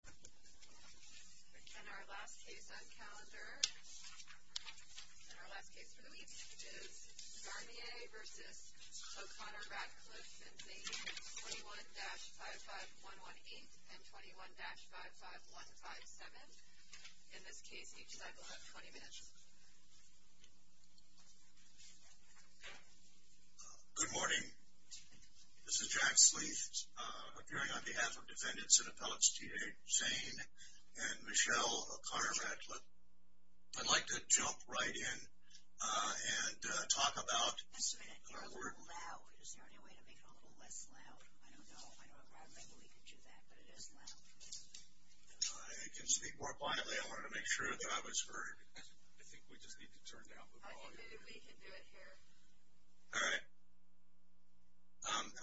and they used 21-55118 and 21-55157. In this case, each side will have 20 minutes. Good morning. This is Jack Sleaf, appearing on behalf of defendants and appellates T.J. Zane and Michelle O'Connor-Ratcliff. I'd like to jump right in and talk about our work.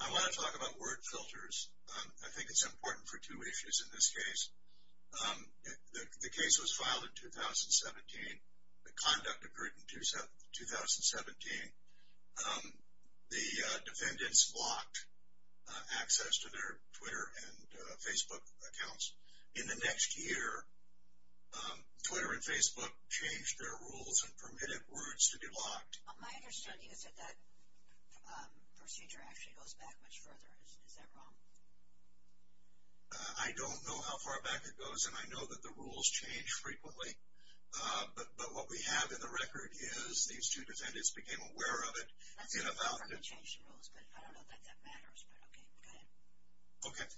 I want to talk about word filters. I think it's important for two issues in this case. The case was filed in 2017. The conduct occurred in 2017. The defendants blocked access to their Twitter and Facebook accounts. In the next year, Twitter and Facebook changed their rules and permitted words to be blocked. My understanding is that that procedure actually goes back much further. Is that wrong? I don't know how far back it goes, and I know that the rules change frequently. But what we have in the record is these two defendants became aware of it. I don't know that that matters, but okay, go ahead.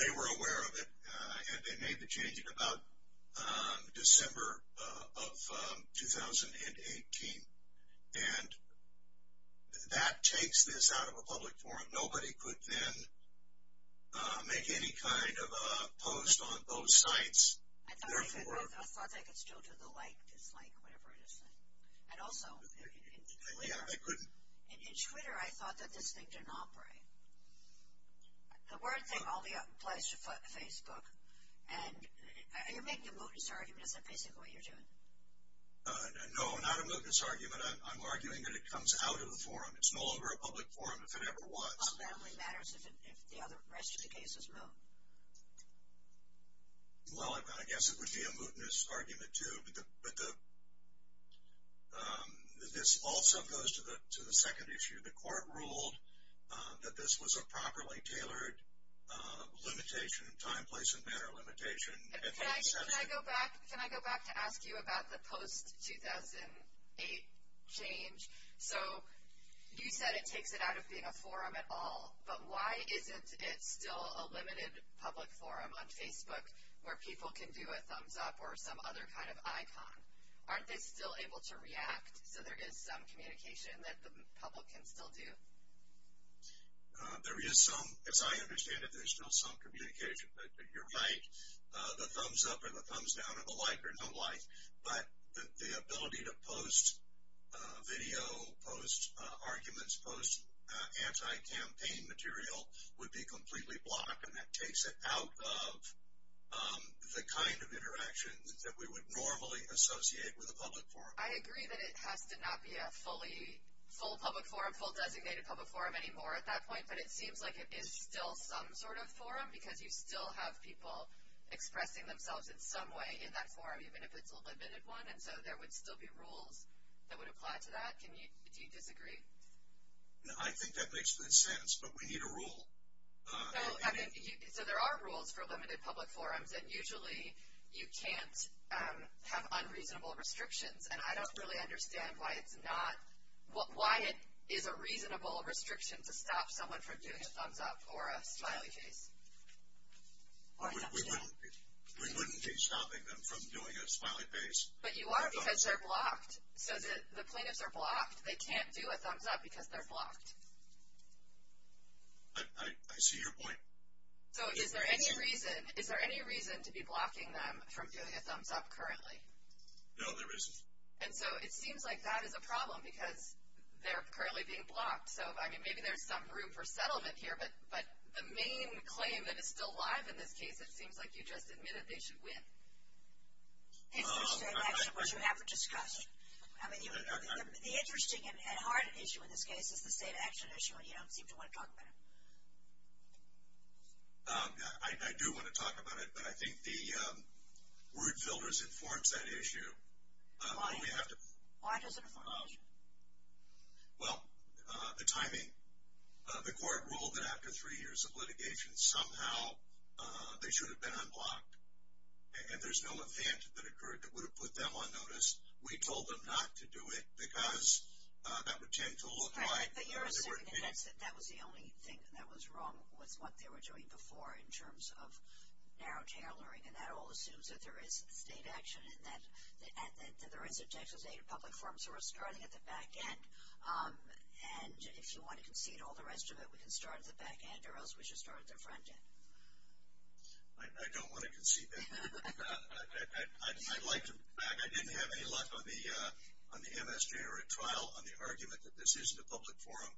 They were aware of it, and they made the change in about December of 2018. And that takes this out of a public forum. Nobody could then make any kind of a post on both sites. I thought they could still do the like, dislike, whatever it is. And also, in Twitter, I thought that this thing didn't operate. The word thing only applies to Facebook. Are you making a mood disorder? Is that basically what you're doing? No, not a mootness argument. I'm arguing that it comes out of the forum. It's no longer a public forum if it ever was. Well, that only matters if the rest of the case is wrong. Well, I guess it would be a mootness argument, too. But this also goes to the second issue. The court ruled that this was a properly tailored limitation, time, place, and manner limitation. Can I go back to ask you about the post-2008 change? So you said it takes it out of being a forum at all, but why isn't it still a limited public forum on Facebook where people can do a thumbs-up or some other kind of icon? Aren't they still able to react so there is some communication that the public can still do? There is some. As I understand it, there's still some communication, but you're right. The thumbs-up or the thumbs-down or the like or no like, but the ability to post video, post arguments, post anti-campaign material would be completely blocked, and that takes it out of the kind of interaction that we would normally associate with a public forum. I agree that it has to not be a full public forum, full designated public forum anymore at that point, but it seems like it is still some sort of forum because you still have people expressing themselves in some way in that forum, even if it's a limited one, and so there would still be rules that would apply to that. Do you disagree? No, I think that makes good sense, but we need a rule. So there are rules for limited public forums, and usually you can't have unreasonable restrictions, and I don't really understand why it is a reasonable restriction to stop someone from doing a thumbs-up or a smiley face. We wouldn't be stopping them from doing a smiley face. But you are because they're blocked. The plaintiffs are blocked. They can't do a thumbs-up because they're blocked. I see your point. So is there any reason to be blocking them from doing a thumbs-up currently? No, there isn't. And so it seems like that is a problem because they're currently being blocked. So, I mean, maybe there's some room for settlement here, but the main claim that is still alive in this case, it seems like you just admitted they should win. It's the state action, which you haven't discussed. I mean, the interesting and hard issue in this case is the state action issue, and you don't seem to want to talk about it. I do want to talk about it, but I think the word filters informs that issue. Why does it inform the issue? Well, the timing. The court ruled that after three years of litigation, somehow they should have been unblocked, and there's no offense that occurred that would have put them on notice. We told them not to do it because that would tend to look like they were being unblocked. But you're assuming that that was the only thing that was wrong with what they were doing before in terms of narrow tailoring, and that all assumes that there is state action and that there is a public forum. So, we're starting at the back end, and if you want to concede all the rest of it, we can start at the back end or else we should start at the front end. I don't want to concede that. I'd like to come back. I didn't have any luck on the MSJ or at trial on the argument that this isn't a public forum.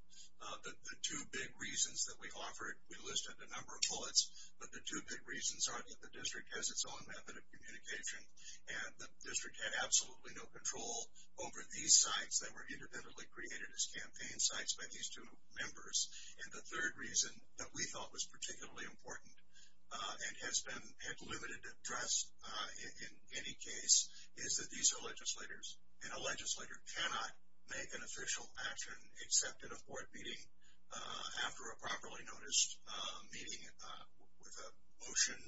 The two big reasons that we offered, we listed a number of bullets, but the two big reasons are that the district has its own method of communication and the district had absolutely no control over these sites that were independently created as campaign sites by these two members. And the third reason that we thought was particularly important and has been at limited address in any case is that these are legislators, and a legislator cannot make an official action except in a board meeting after a properly noticed meeting with a motion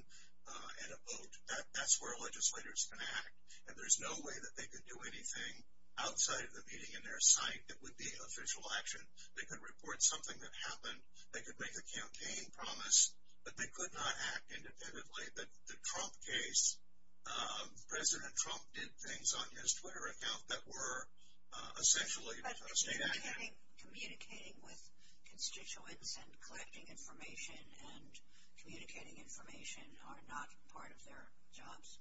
and a vote. That's where legislators can act, and there's no way that they could do anything outside of the meeting in their site that would be official action. They could report something that happened. They could make a campaign promise, but they could not act independently. The Trump case, President Trump did things on his Twitter account that were essentially state action. But communicating with constituents and collecting information and communicating information are not part of their jobs?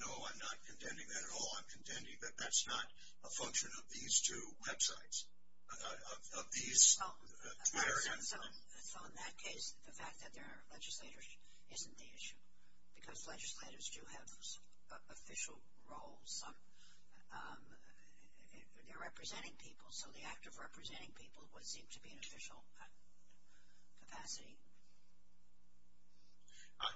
No, I'm not contending that at all. I'm contending that that's not a function of these two websites, of these two areas. So in that case, the fact that there are legislators isn't the issue, because legislators do have official roles. They're representing people, so the act of representing people would seem to be an official capacity.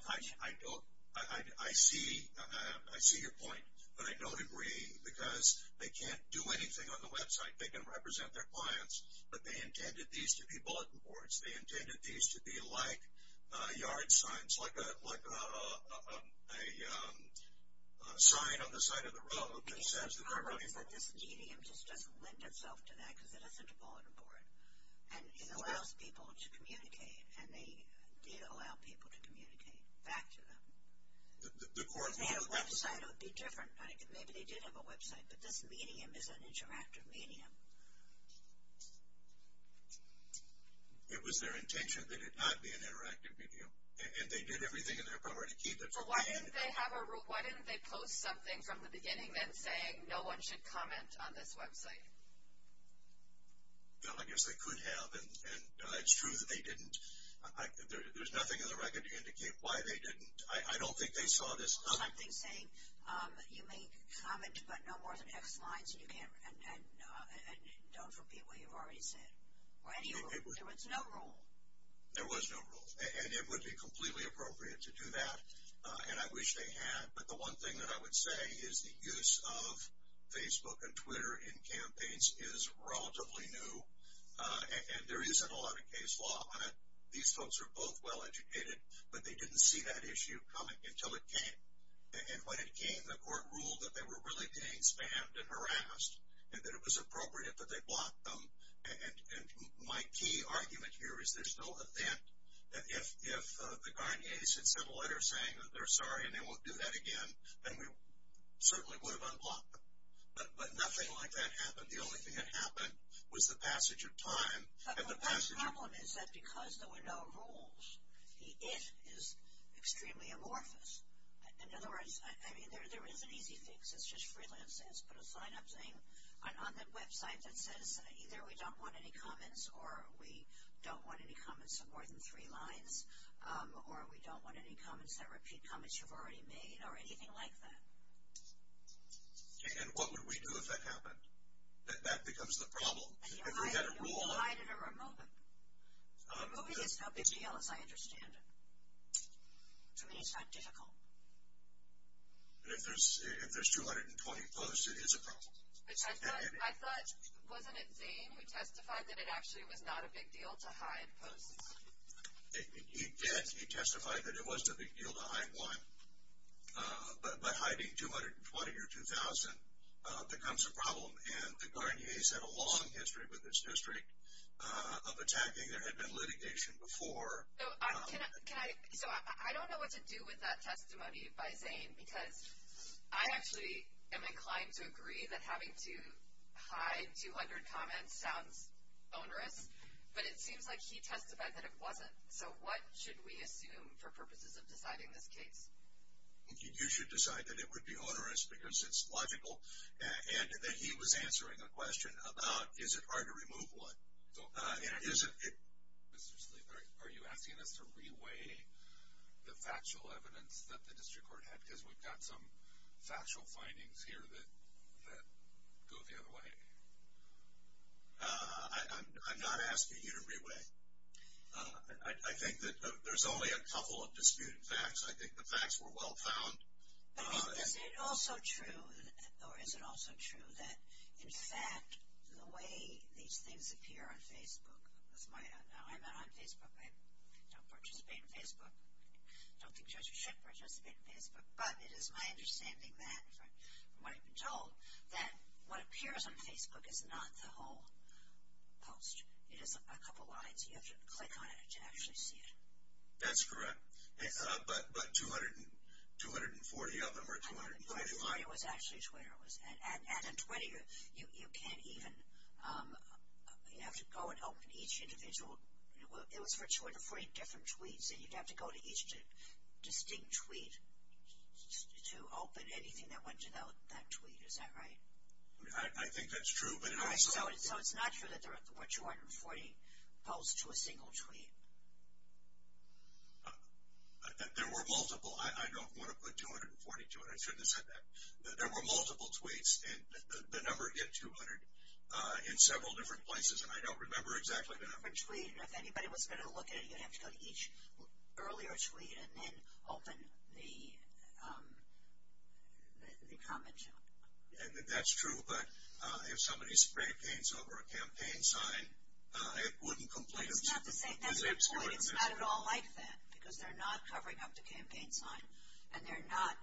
I see your point, but I don't agree because they can't do anything on the website. They can represent their clients, but they intended these to be bulletin boards. They intended these to be like yard signs, like a sign on the side of the road that says the card vote. The problem is that this medium just doesn't lend itself to that, because it isn't a bulletin board. And it allows people to communicate, and they did allow people to communicate back to them. If they had a website, it would be different. Maybe they did have a website, but this medium is an interactive medium. It was their intention that it not be an interactive medium, and they did everything in their power to keep it. So why didn't they post something from the beginning then saying no one should comment on this website? I guess they could have, and it's true that they didn't. There's nothing in the record to indicate why they didn't. I don't think they saw this coming. Something saying you may comment, but no more than X lines, and don't repeat what you've already said. There was no rule. There was no rule, and it would be completely appropriate to do that, and I wish they had. But the one thing that I would say is the use of Facebook and Twitter in campaigns is relatively new, and there isn't a lot of case law on it. These folks are both well-educated, but they didn't see that issue coming until it came. And when it came, the court ruled that they were really being spammed and harassed, and that it was appropriate that they block them. And my key argument here is there's no event that if the Garniers had sent a letter saying that they're sorry and they won't do that again, then we certainly would have unblocked them. But nothing like that happened. The only thing that happened was the passage of time. But the problem is that because there were no rules, it is extremely amorphous. In other words, I mean, there is an easy fix. It's just freelancing. It's put a sign-up thing on the website that says either we don't want any comments or we don't want any comments of more than three lines or we don't want any comments that repeat comments you've already made or anything like that. And what would we do if that happened? That becomes the problem. If we had a rule. Hide it or remove it. Removing it is no big deal, as I understand it. To me, it's not difficult. If there's 220 posts, it is a problem. I thought, wasn't it Zane who testified that it actually was not a big deal to hide posts? He did. He testified that it wasn't a big deal to hide one. But hiding 220 or 2,000 becomes a problem. And the Garnier's had a long history with this district of attacking. There had been litigation before. So I don't know what to do with that testimony by Zane because I actually am inclined to agree that having to hide 200 comments sounds onerous. But it seems like he testified that it wasn't. So what should we assume for purposes of deciding this case? You should decide that it would be onerous because it's logical. And that he was answering a question about is it hard to remove what. Mr. Sleeve, are you asking us to re-weigh the factual evidence that the district court had because we've got some factual findings here that go the other way? I'm not asking you to re-weigh. I think that there's only a couple of disputed facts. I think the facts were well found. But isn't it also true or is it also true that, in fact, the way these things appear on Facebook. Now, I'm not on Facebook. I don't participate on Facebook. I don't think judges should participate on Facebook. But it is my understanding that, from what I've been told, that what appears on Facebook is not the whole post. It is a couple lines. You have to click on it to actually see it. That's correct. But 240 of them are. 240 was actually Twitter. At a 20, you can't even. You have to go and open each individual. It was for 240 different tweets. And you'd have to go to each distinct tweet to open anything that went to that tweet. Is that right? I think that's true. So it's not true that there were 240 posts to a single tweet. There were multiple. I don't want to put 240 to it. I shouldn't have said that. There were multiple tweets. The number hit 200 in several different places. And I don't remember exactly the number. If anybody was going to look at it, you'd have to go to each earlier tweet and then open the comment. That's true. But if somebody sprayed paint over a campaign sign, it wouldn't complete it. It's not the same. That's the point. It's not at all like that because they're not covering up the campaign sign. And they're not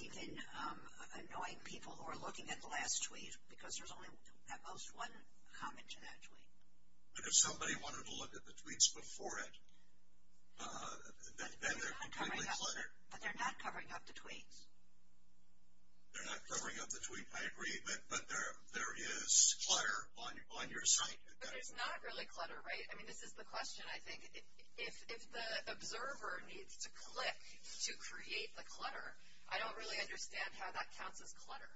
even annoying people who are looking at the last tweet because there's only at most one comment to that tweet. But if somebody wanted to look at the tweets before it, then they're completely cluttered. But they're not covering up the tweets. They're not covering up the tweets. I agree. But there is clutter on your site. But there's not really clutter, right? I mean, this is the question, I think. If the observer needs to click to create the clutter, I don't really understand how that counts as clutter.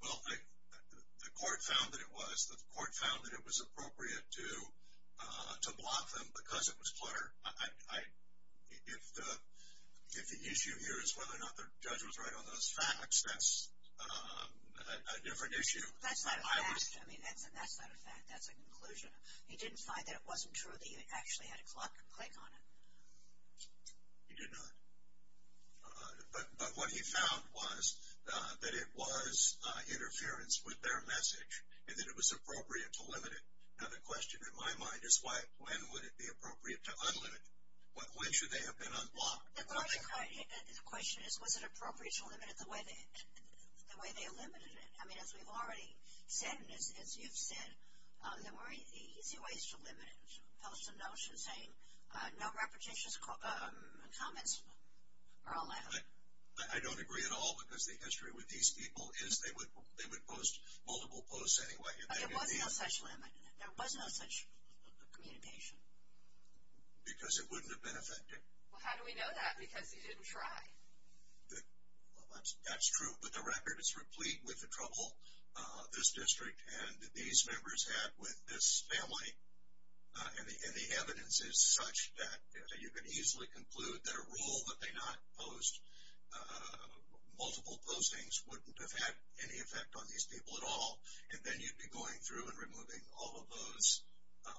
Well, the court found that it was. The court found that it was appropriate to block them because it was clutter. If the issue here is whether or not the judge was right on those facts, that's a different issue. That's not a fact. I mean, that's not a fact. That's a conclusion. He didn't find that it wasn't true that you actually had to click on it. He did not. But what he found was that it was interference with their message and that it was appropriate to limit it. Now, the question in my mind is when would it be appropriate to unlimit it? When should they have been unblocked? The question is was it appropriate to limit it the way they eliminated it? I mean, as we've already said and as you've said, there were easy ways to limit it, to post a notion saying no repetitious comments are allowed. I don't agree at all because the history with these people is they would post multiple posts anyway. There was no such limit. There was no such communication. Because it wouldn't have been effective. Well, how do we know that? Because he didn't try. That's true. But the record is replete with the trouble this district and these members had with this family. And the evidence is such that you could easily conclude that a rule that they not post multiple postings wouldn't have had any effect on these people at all. And then you'd be going through and removing all of those,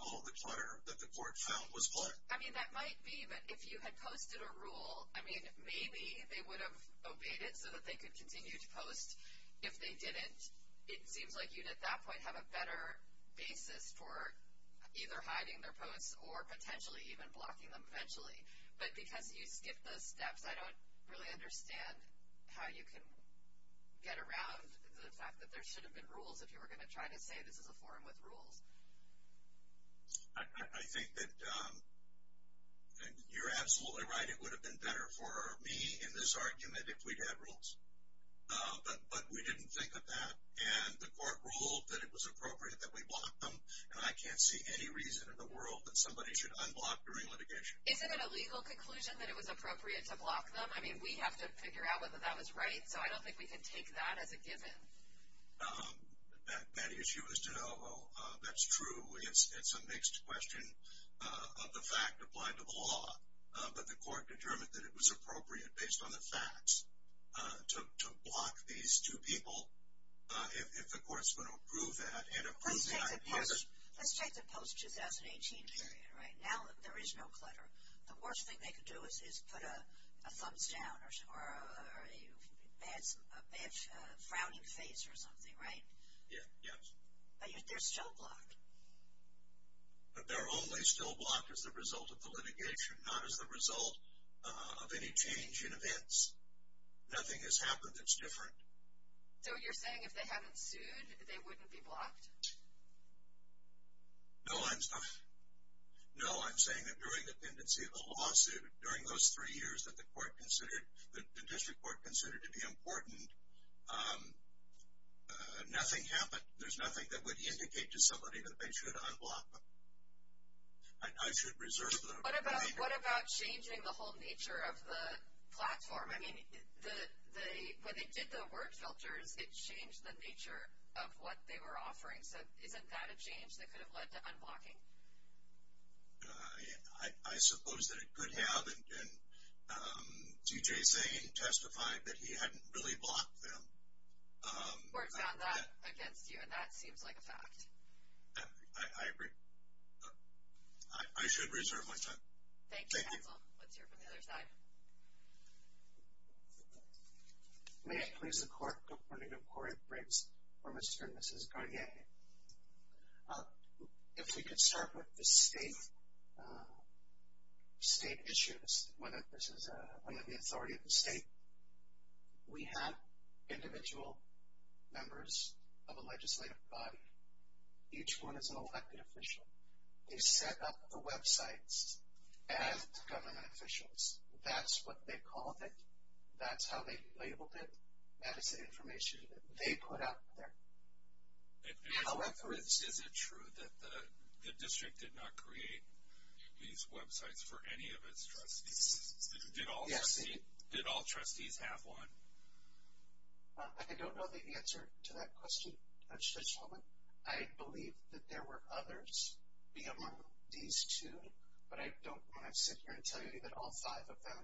all of the clutter that the court found was black. I mean, that might be. But if you had posted a rule, I mean, maybe they would have obeyed it so that they could continue to post. If they didn't, it seems like you'd, at that point, have a better basis for either hiding their posts or potentially even blocking them eventually. But because you skipped those steps, I don't really understand how you can get around the fact that there should have been rules if you were going to try to say this is a forum with rules. I think that you're absolutely right. It would have been better for me in this argument if we'd had rules. But we didn't think of that. And the court ruled that it was appropriate that we block them. And I can't see any reason in the world that somebody should unblock during litigation. Isn't it a legal conclusion that it was appropriate to block them? I mean, we have to figure out whether that was right. So I don't think we can take that as a given. That issue is to know that's true. It's a mixed question of the fact applied to the law. But the court determined that it was appropriate, based on the facts, to block these two people if the court's going to approve that. Let's take the post-2018 period, right? Now that there is no clutter, the worst thing they could do is put a thumbs down or a frowning face or something, right? Yes. But they're still blocked. But they're only still blocked as a result of the litigation, not as a result of any change in events. Nothing has happened that's different. So you're saying if they haven't sued, they wouldn't be blocked? No, I'm saying that during the pendency of the lawsuit, during those three years that the district court considered to be important, nothing happened. There's nothing that would indicate to somebody that they should unblock them. What about changing the whole nature of the platform? I mean, when they did the word filters, it changed the nature of what they were offering. So isn't that a change that could have led to unblocking? I suppose that it could have. And D.J. Zane testified that he hadn't really blocked them. The court found that against you, and that seems like a fact. I agree. I should reserve my time. Thank you. Thank you, counsel. Let's hear from the other side. May it please the Court, the Court of Corrections for Mr. and Mrs. Garnier. If we could start with the state issues, one of the authority of the state. We have individual members of a legislative body. Each one is an elected official. They set up the websites as government officials. That's what they called it. That's how they labeled it. That is the information that they put out there. However, is it true that the district did not create these websites for any of its trustees? Did all trustees have one? I don't know the answer to that question at this moment. I believe that there were others among these two, but I don't want to sit here and tell you that all five of them.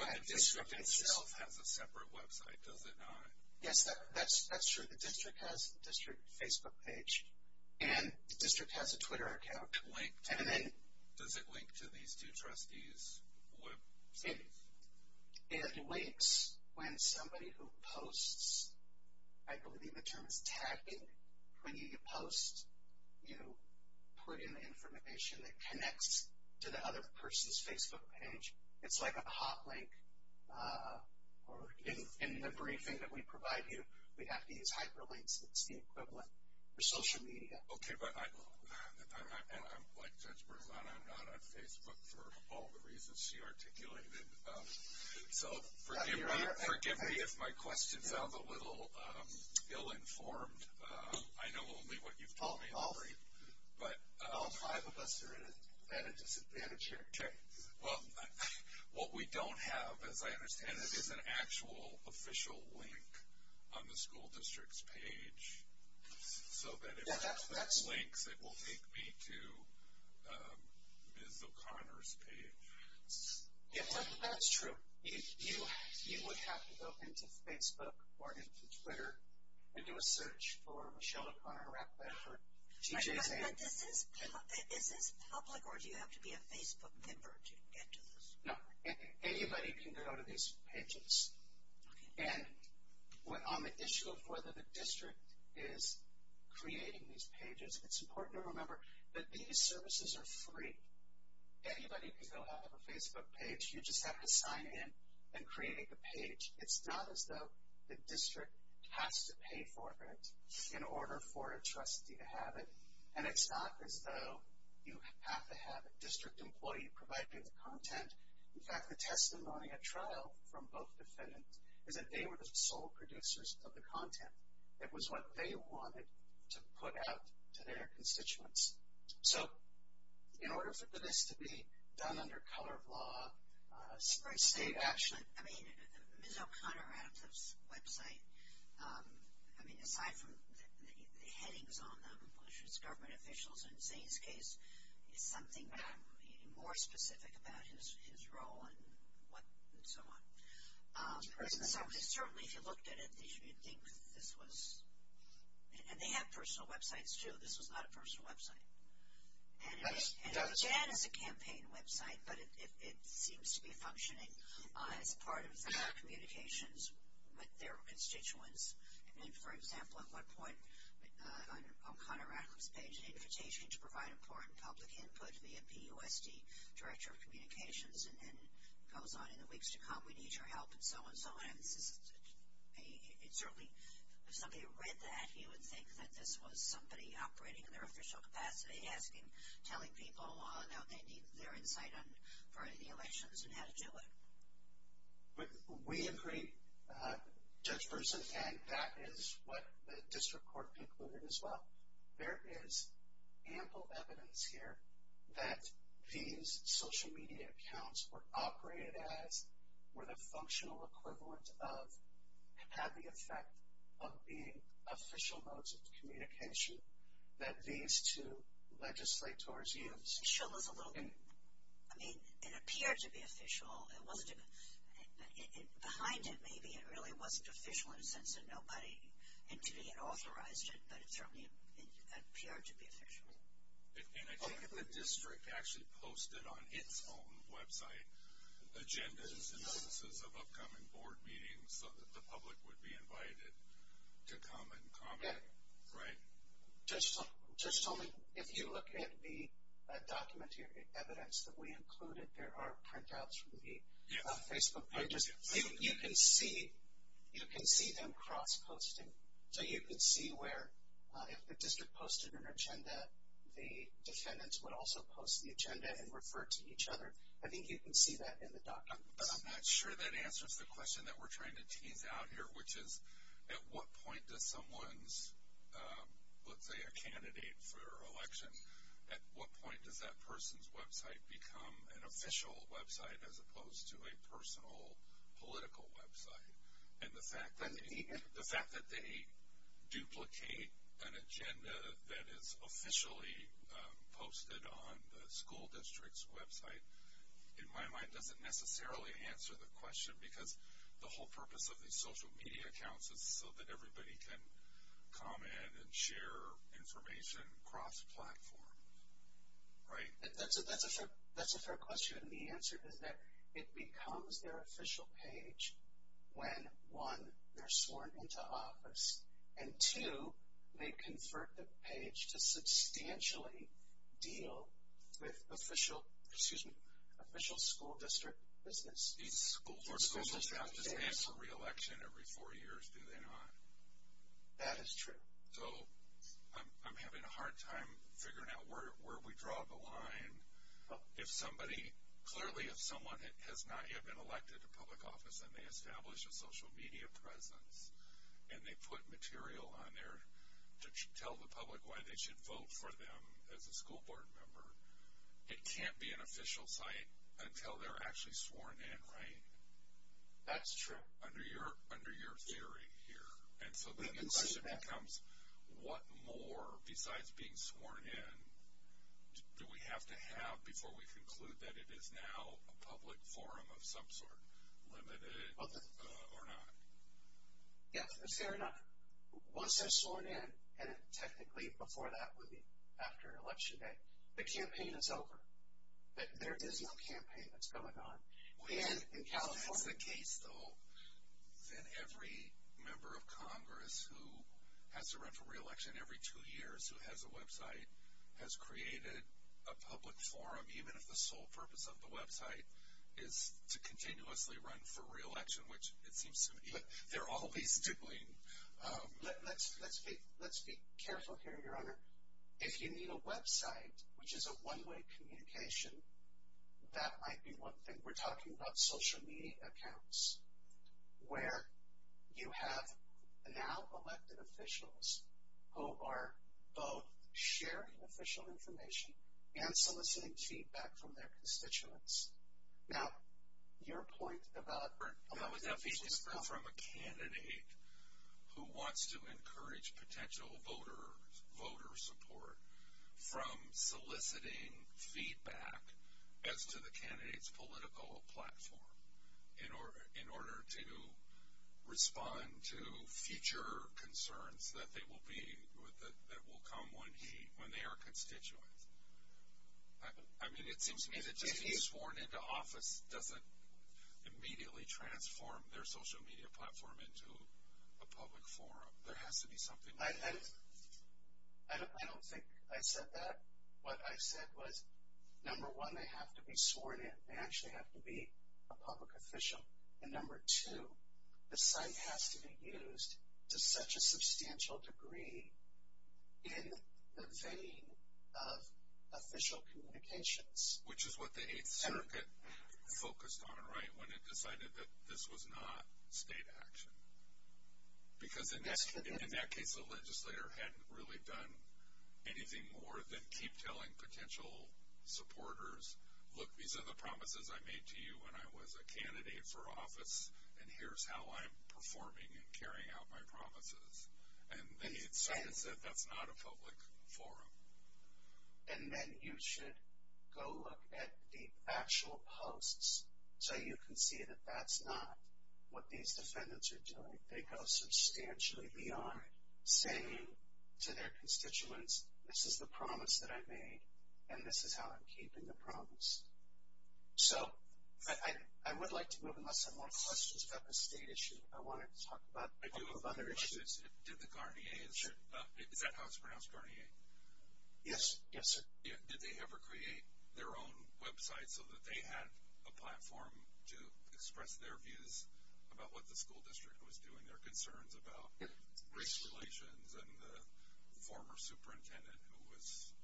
But the district itself has a separate website, does it not? Yes, that's true. The district has a district Facebook page, and the district has a Twitter account. Does it link to these two trustees' websites? It links when somebody who posts. I believe the term is tagging. When you post, you put in the information that connects to the other person's Facebook page. It's like a hot link. In the briefing that we provide you, we have to use hyperlinks. It's the equivalent for social media. Okay, but I'm like Judge Berzano. I'm not on Facebook for all the reasons she articulated. So forgive me if my questions sound a little ill-informed. I know only what you've told me already. All five of us are at a disadvantage here. Okay, well, what we don't have, as I understand it, is an actual official link on the school district's page so that if it links, it will take me to Ms. O'Connor's page. That's true. You would have to go into Facebook or into Twitter and do a search for Michelle O'Connor to wrap that up. Is this public or do you have to be a Facebook member to get to this? No, anybody can go to these pages. And on the issue of whether the district is creating these pages, it's important to remember that these services are free. Anybody can go have a Facebook page. You just have to sign in and create the page. It's not as though the district has to pay for it in order for a trustee to have it, and it's not as though you have to have a district employee providing the content. In fact, the testimony at trial from both defendants is that they were the sole producers of the content. It was what they wanted to put out to their constituents. So in order for this to be done under color of law, state action, I mean Michelle O'Connor had a website. I mean aside from the headings on them, which was government officials, and Zane's case is something more specific about his role and so on. So certainly if you looked at it, you'd think this was, and they had personal websites too. This was not a personal website. And Jan has a campaign website, but it seems to be functioning as part of their communications with their constituents. I mean, for example, at one point O'Connor had this page, an invitation to provide important public input via PUSD, Director of Communications, and then it goes on in the weeks to come, we need your help, and so on and so on. And certainly if somebody had read that, you would think that this was somebody operating in their official capacity, asking, telling people how they need their insight for the elections and how to do it. But we agree, Judge Berson, and that is what the district court concluded as well. There is ample evidence here that these social media accounts were operated as, were the functional equivalent of, had the effect of being official modes of communication that these two legislators used. I mean, it appeared to be official. Behind it, maybe it really wasn't official in a sense that nobody had authorized it, but it certainly appeared to be official. And I think if the district actually posted on its own website agendas and instances of upcoming board meetings that the public would be invited to come and comment, right? Judge Tolman, if you look at the document here, evidence that we included, there are printouts from the Facebook pages. You can see them cross-posting. So you can see where if the district posted an agenda, the defendants would also post the agenda and refer to each other. I think you can see that in the document. But I'm not sure that answers the question that we're trying to tease out here, which is at what point does someone's, let's say a candidate for election, at what point does that person's website become an official website as opposed to a personal political website? And the fact that they duplicate an agenda that is officially posted on the school district's website, in my mind, doesn't necessarily answer the question because the whole purpose of these social media accounts is so that everybody can comment and share information cross-platform, right? That's a fair question. And the answer is that it becomes their official page when, one, they're sworn into office, and two, they convert the page to substantially deal with official school district business. These schools or social staff just answer re-election every four years, do they not? That is true. So I'm having a hard time figuring out where we draw the line. If somebody, clearly if someone has not yet been elected to public office and they establish a social media presence and they put material on there to tell the public why they should vote for them as a school board member, it can't be an official site until they're actually sworn in, right? That's true. Under your theory here. And so then the question becomes what more, besides being sworn in, do we have to have before we conclude that it is now a public forum of some sort, limited or not? Yes, fair enough. Once they're sworn in, and technically before that would be after election day, the campaign is over. There is no campaign that's going on. If that's the case, though, then every member of Congress who has to run for re-election every two years who has a website has created a public forum, even if the sole purpose of the website is to continuously run for re-election, which it seems to me they're always doing. Let's be careful here, Your Honor. If you need a website which is a one-way communication, that might be one thing. We're talking about social media accounts where you have now elected officials who are both sharing official information and soliciting feedback from their constituents. Now, your point about... That was a feedback from a candidate who wants to encourage potential voter support from soliciting feedback as to the candidate's political platform in order to respond to future concerns that will come when they are constituents. I mean, it seems to me that just being sworn into office doesn't immediately transform their social media platform into a public forum. There has to be something... I don't think I said that. What I said was, number one, they have to be sworn in. They actually have to be a public official. And number two, the site has to be used to such a substantial degree in the vein of official communications. Which is what the Eighth Circuit focused on, right, when it decided that this was not state action. Because in that case, the legislator hadn't really done anything more than keep telling potential supporters, look, these are the promises I made to you when I was a candidate for office, and here's how I'm performing and carrying out my promises. And then he decided that that's not a public forum. And then you should go look at the actual posts so you can see that that's not what these defendants are doing. They go substantially beyond saying to their constituents, this is the promise that I made and this is how I'm keeping the promise. So I would like to move on. I have some more questions about the state issue. I wanted to talk about a couple of other issues. Is that how it's pronounced, Garnier? Yes, yes, sir. Did they ever create their own website so that they had a platform to express their views about what the school district was doing, their concerns about race relations and the former superintendent who was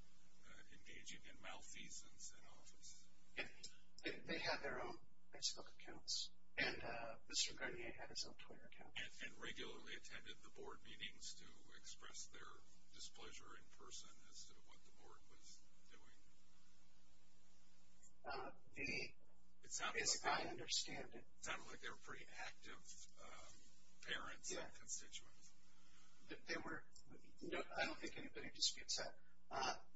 engaging in malfeasance in office? They had their own Facebook accounts, and Mr. Garnier had his own Twitter account. And regularly attended the board meetings to express their displeasure in person as to what the board was doing? It sounded like they were pretty active parents and constituents. I don't think anybody disputes that.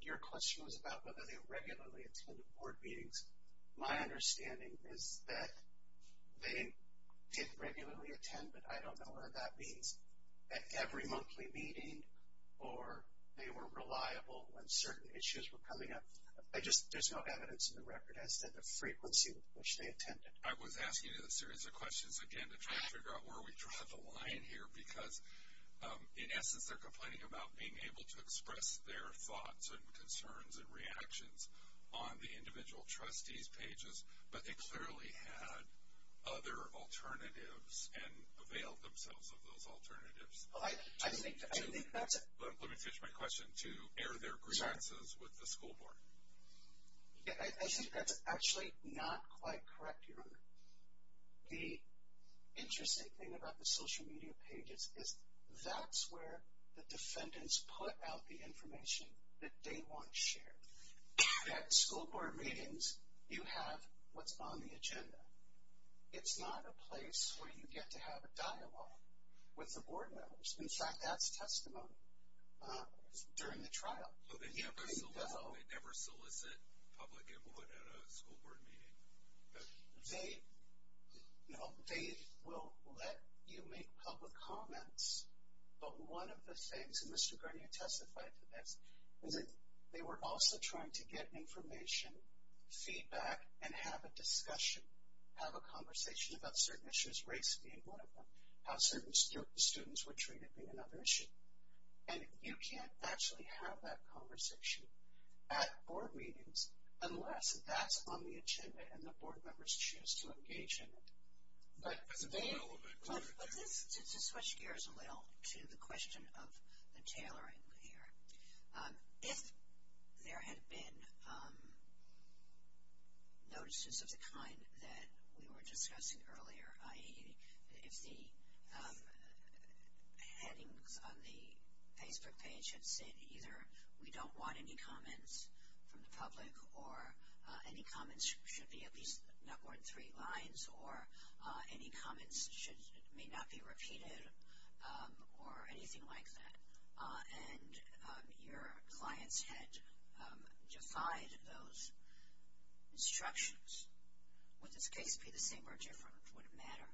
Your question was about whether they regularly attended board meetings. My understanding is that they did regularly attend, but I don't know whether that means at every monthly meeting or they were reliable when certain issues were coming up. There's no evidence in the record as to the frequency with which they attended. I was asking you this series of questions, again, to try to figure out where we draw the line here because, in essence, they're complaining about being able to express their thoughts and concerns and reactions on the individual trustees' pages, but they clearly had other alternatives and availed themselves of those alternatives. Let me finish my question to air their grievances with the school board. I think that's actually not quite correct, Your Honor. The interesting thing about the social media pages is that's where the defendants put out the information that they want shared. At school board meetings, you have what's on the agenda. It's not a place where you get to have a dialogue with the board members. In fact, that's testimony during the trial. They never solicit public input at a school board meeting? No, they will let you make public comments, but one of the things, and Mr. Gurney testified to this, is that they were also trying to get information, feedback, and have a discussion, have a conversation about certain issues, race being one of them, how certain students were treated being another issue. And you can't actually have that conversation at board meetings unless that's on the agenda and the board members choose to engage in it. To switch gears a little to the question of the tailoring here, if there had been notices of the kind that we were discussing earlier, i.e. if the headings on the Facebook page had said either we don't want any comments from the public or any comments should be at least not more than three lines or any comments may not be repeated or anything like that, and your clients had defied those instructions, would this case be the same or different? Would it matter?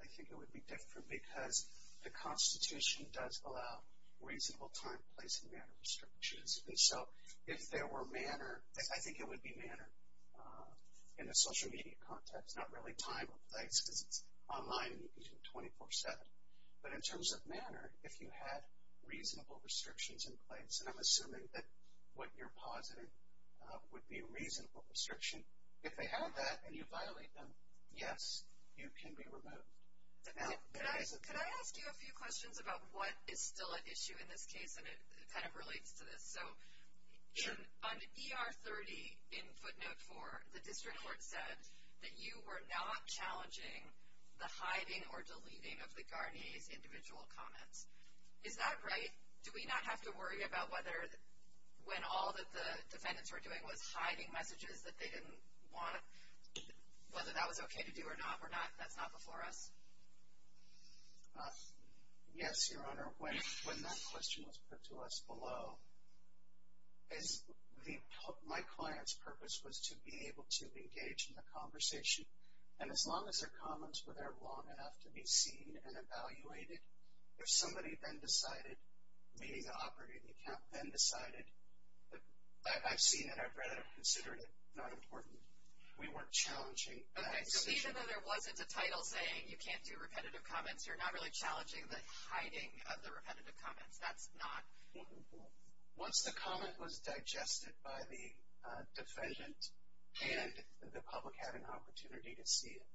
I think it would be different because the Constitution does allow reasonable time, place, and manner restrictions. And so if there were manner, I think it would be manner in the social media context, not really time or place because it's online and you can do it 24-7. But in terms of manner, if you had reasonable restrictions in place, and I'm assuming that what you're positing would be a reasonable restriction, if they have that and you violate them, yes, you can be removed. Could I ask you a few questions about what is still at issue in this case? And it kind of relates to this. Sure. On ER 30 in footnote 4, the district court said that you were not challenging the hiding or deleting of the Garnier's individual comments. Is that right? Do we not have to worry about whether when all that the defendants were doing was hiding messages that they didn't want, whether that was okay to do or not, or that's not before us? Yes, Your Honor. When that question was put to us below, my client's purpose was to be able to engage in the conversation. And as long as their comments were there long enough to be seen and evaluated, if somebody then decided, meaning the operating account then decided, I've seen it, I've read it, I've considered it, not important. We weren't challenging that decision. Okay. So even though there wasn't a title saying you can't do repetitive comments, you're not really challenging the hiding of the repetitive comments. That's not important. Once the comment was digested by the defendant and the public had an opportunity to see it,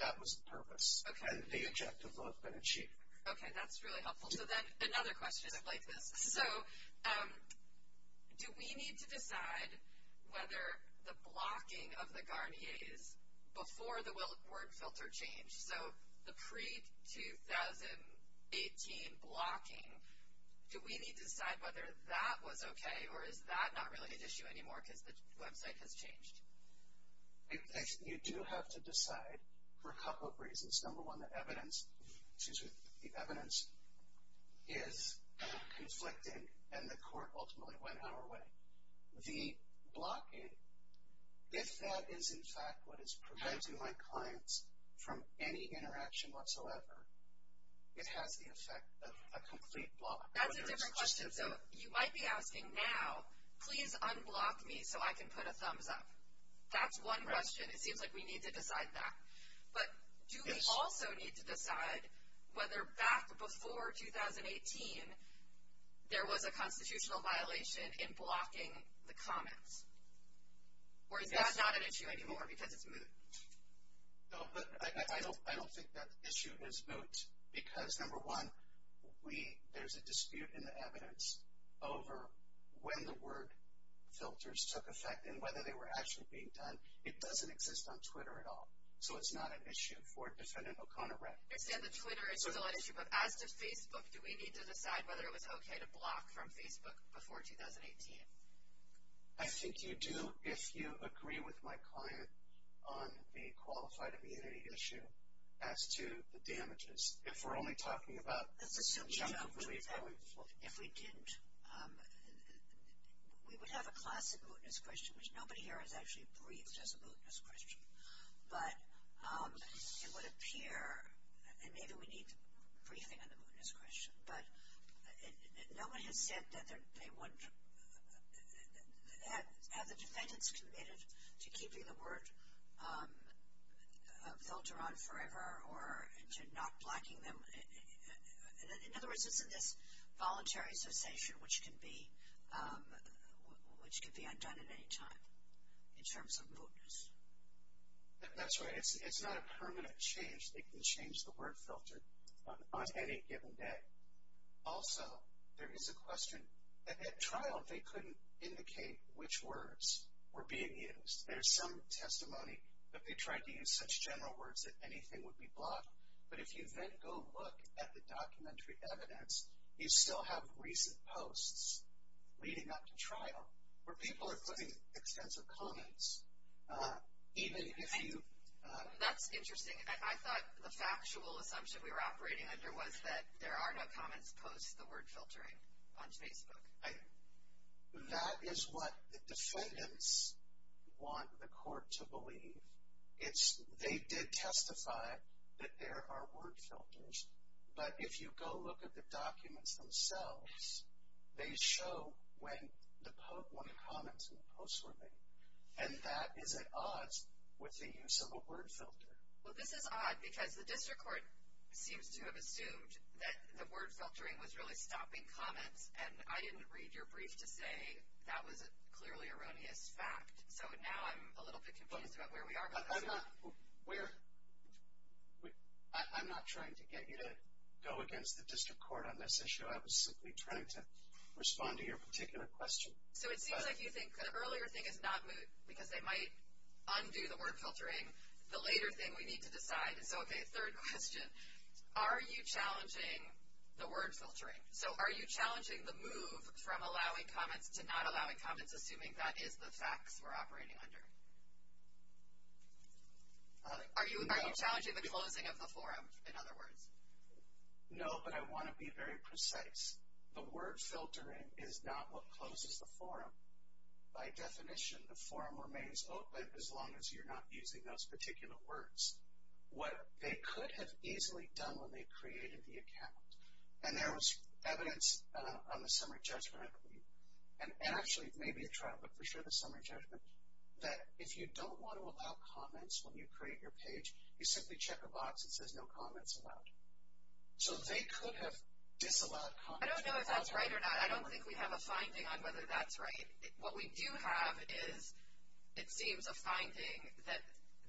that was the purpose. Okay. And the objective will have been achieved. Okay. That's really helpful. So then another question. Is it like this? So do we need to decide whether the blocking of the Garnier's before the word filter change, so the pre-2018 blocking, do we need to decide whether that was okay or is that not really an issue anymore because the website has changed? You do have to decide for a couple of reasons. Number one, the evidence is conflicting and the court ultimately went our way. The blocking, if that is in fact what is preventing my clients from any interaction whatsoever, it has the effect of a complete block. That's a different question. So you might be asking now, please unblock me so I can put a thumbs up. That's one question. It seems like we need to decide that. But do we also need to decide whether back before 2018, there was a constitutional violation in blocking the comments? Or is that not an issue anymore because it's moot? I don't think that issue is moot because, number one, there's a dispute in the evidence over when the word filters took effect and whether they were actually being done. It doesn't exist on Twitter at all. So it's not an issue for Defendant O'Connor Wreck. I understand that Twitter is still an issue, but as to Facebook, do we need to decide whether it was okay to block from Facebook before 2018? I think you do if you agree with my client on the qualified immunity issue as to the damages. If we're only talking about the presumption of belief. If we didn't, we would have a classic mootness question, which nobody here has actually briefed as a mootness question. But it would appear, and maybe we need briefing on the mootness question, but no one has said that they would have the defendants committed to keeping the word filter on forever or to not blocking them. In other words, it's in this voluntary cessation, which can be undone at any time in terms of mootness. That's right. It's not a permanent change. They can change the word filter on any given day. Also, there is a question. At trial, they couldn't indicate which words were being used. There's some testimony that they tried to use such general words that anything would be blocked. But if you then go look at the documentary evidence, you still have recent posts leading up to trial where people are putting extensive comments. That's interesting. I thought the factual assumption we were operating under was that there are no comments post the word filtering on Facebook. That is what the defendants want the court to believe. They did testify that there are word filters. But if you go look at the documents themselves, they show when the comments in the posts were made. And that is at odds with the use of a word filter. Well, this is odd because the district court seems to have assumed that the word filtering was really stopping comments, and I didn't read your brief to say that was a clearly erroneous fact. So now I'm a little bit confused about where we are with this. I'm not trying to get you to go against the district court on this issue. I was simply trying to respond to your particular question. So it seems like you think the earlier thing is not moot because they might undo the word filtering. The later thing we need to decide is, okay, third question, are you challenging the word filtering? So are you challenging the move from allowing comments to not allowing comments, assuming that is the facts we're operating under? Are you challenging the closing of the forum, in other words? No, but I want to be very precise. The word filtering is not what closes the forum. By definition, the forum remains open as long as you're not using those particular words. What they could have easily done when they created the account, and there was evidence on the summary judgment, I believe, and actually it may be a trial, but for sure the summary judgment, that if you don't want to allow comments when you create your page, you simply check a box that says no comments allowed. So they could have disallowed comments. I don't know if that's right or not. I don't think we have a finding on whether that's right. What we do have is it seems a finding that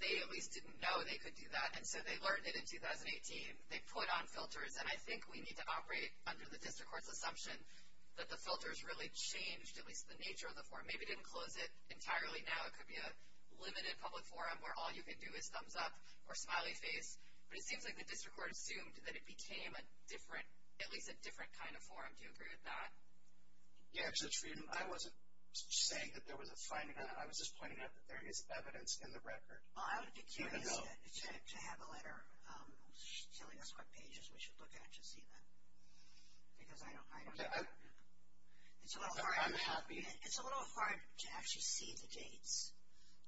they at least didn't know they could do that, and so they learned it in 2018. They put on filters, and I think we need to operate under the district court's assumption that the filters really changed at least the nature of the forum. Maybe it didn't close it entirely now. It could be a limited public forum where all you could do is thumbs up or smiley face, but it seems like the district court assumed that it became a different, at least a different kind of forum. Do you agree with that? Yeah, I wasn't saying that there was a finding on it. I was just pointing out that there is evidence in the record. I would be curious to have a letter telling us what pages we should look at to see that. Because I don't know. I'm happy. It's a little hard to actually see the dates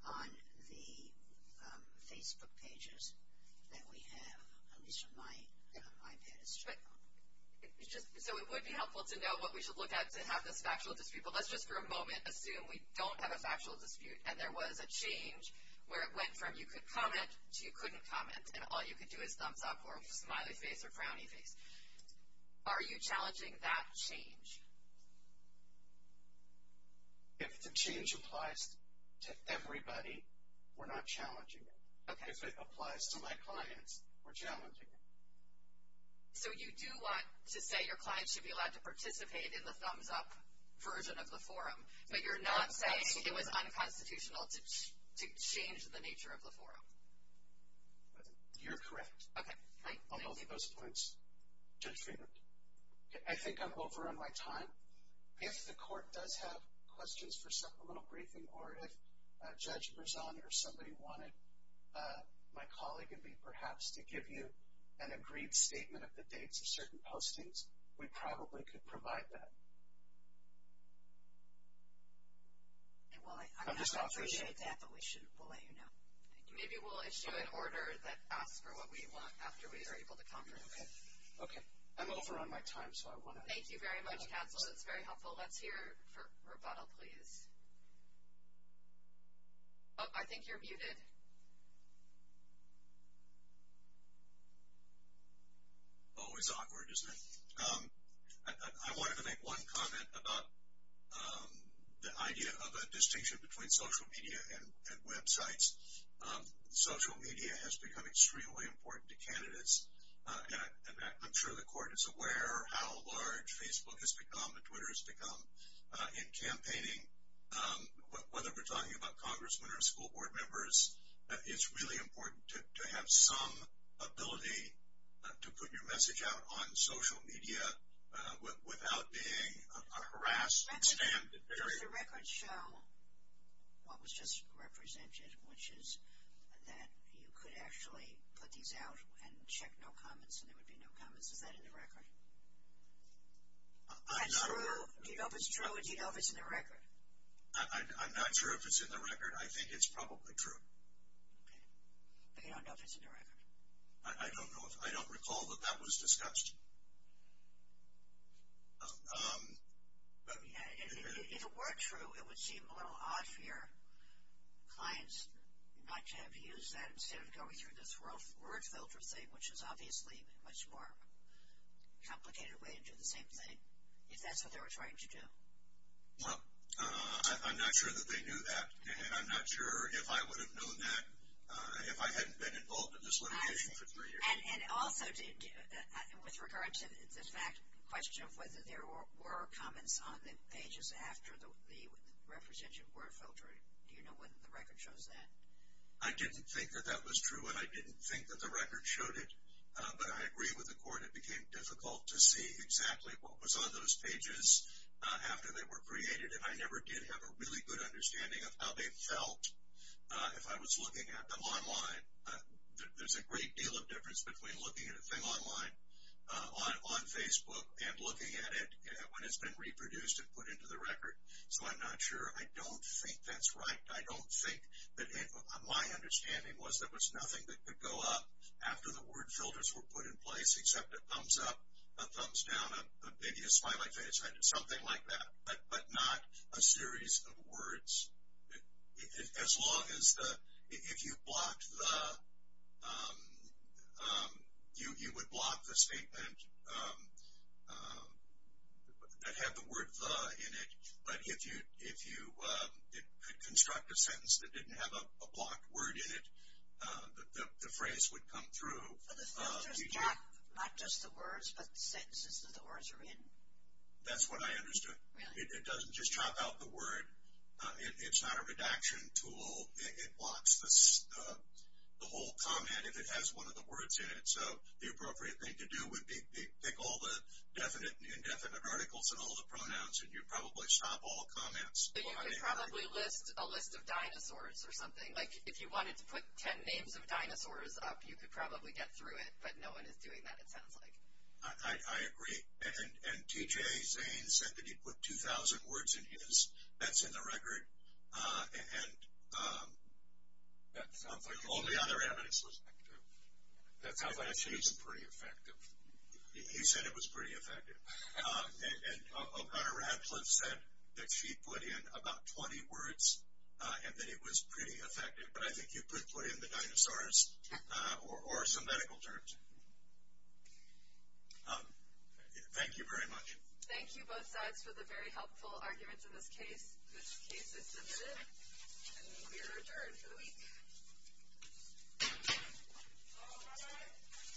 on the Facebook pages that we have, at least from my iPad. So it would be helpful to know what we should look at to have this factual dispute. But let's just for a moment assume we don't have a factual dispute and there was a change where it went from you could comment to you couldn't comment, and all you could do is thumbs up or smiley face or frowny face. Are you challenging that change? If the change applies to everybody, we're not challenging it. If it applies to my clients, we're challenging it. So you do want to say your clients should be allowed to participate in the thumbs up version of the forum, but you're not saying it was unconstitutional to change the nature of the forum? You're correct on both of those points. Judge Friedman? I think I'm over on my time. If the court does have questions for supplemental briefing or if Judge Berzon or somebody wanted my colleague and me perhaps to give you an agreed statement of the dates of certain postings, we probably could provide that. I'm just not sure. I appreciate that, but we'll let you know. Maybe we'll issue an order that asks for what we want after we are able to confer. Okay. I'm over on my time. Thank you very much, counsel. That's very helpful. Let's hear for rebuttal, please. I think you're muted. Always awkward, isn't it? I wanted to make one comment about the idea of a distinction between social media and websites. Social media has become extremely important to candidates, and I'm sure the court is aware how large Facebook has become and Twitter has become in campaigning. Whether we're talking about congressmen or school board members, it's really important to have some ability to put your message out on social media without being harassed. Does the record show what was just represented, which is that you could actually put these out and check no comments and there would be no comments? Is that in the record? Do you know if it's true or do you know if it's in the record? I'm not sure if it's in the record. I think it's probably true. Okay. But you don't know if it's in the record? I don't know. I don't recall that that was discussed. If it were true, it would seem a little odd for your clients not to have used that instead of going through this word filter thing, which is obviously a much more complicated way to do the same thing, if that's what they were trying to do. Well, I'm not sure that they knew that, and I'm not sure if I would have known that if I hadn't been involved in this litigation for three years. And also, with regard to the question of whether there were comments on the pages after the representation word filtering, do you know whether the record shows that? I didn't think that that was true, and I didn't think that the record showed it. But I agree with the court. It became difficult to see exactly what was on those pages after they were created, and I never did have a really good understanding of how they felt. If I was looking at them online, there's a great deal of difference between looking at a thing online on Facebook and looking at it when it's been reproduced and put into the record. So I'm not sure. I don't think that's right. I don't think that my understanding was there was nothing that could go up after the word filters were put in place except a thumbs up, a thumbs down, maybe a smiley face, something like that, but not a series of words. As long as the, if you blocked the, you would block the statement that had the word the in it, but if you could construct a sentence that didn't have a blocked word in it, the phrase would come through. But the filter's got not just the words, but the sentences that the words are in. That's what I understood. Really? It doesn't just chop out the word. It's not a redaction tool. It blocks the whole comment if it has one of the words in it. So the appropriate thing to do would be pick all the definite and indefinite articles and all the pronouns, and you'd probably stop all comments. You could probably list a list of dinosaurs or something. Like if you wanted to put ten names of dinosaurs up, you could probably get through it, but no one is doing that it sounds like. I agree. And T.J. Zane said that he put 2,000 words in his. That's in the record. And all the other evidence was negative. That sounds like it was pretty effective. He said it was pretty effective. And O'Connor Radcliffe said that she put in about 20 words and that it was pretty effective, but I think you could put in the dinosaurs or some medical terms. Thank you very much. Thank you both sides for the very helpful arguments in this case. This case is submitted, and we are adjourned for the week.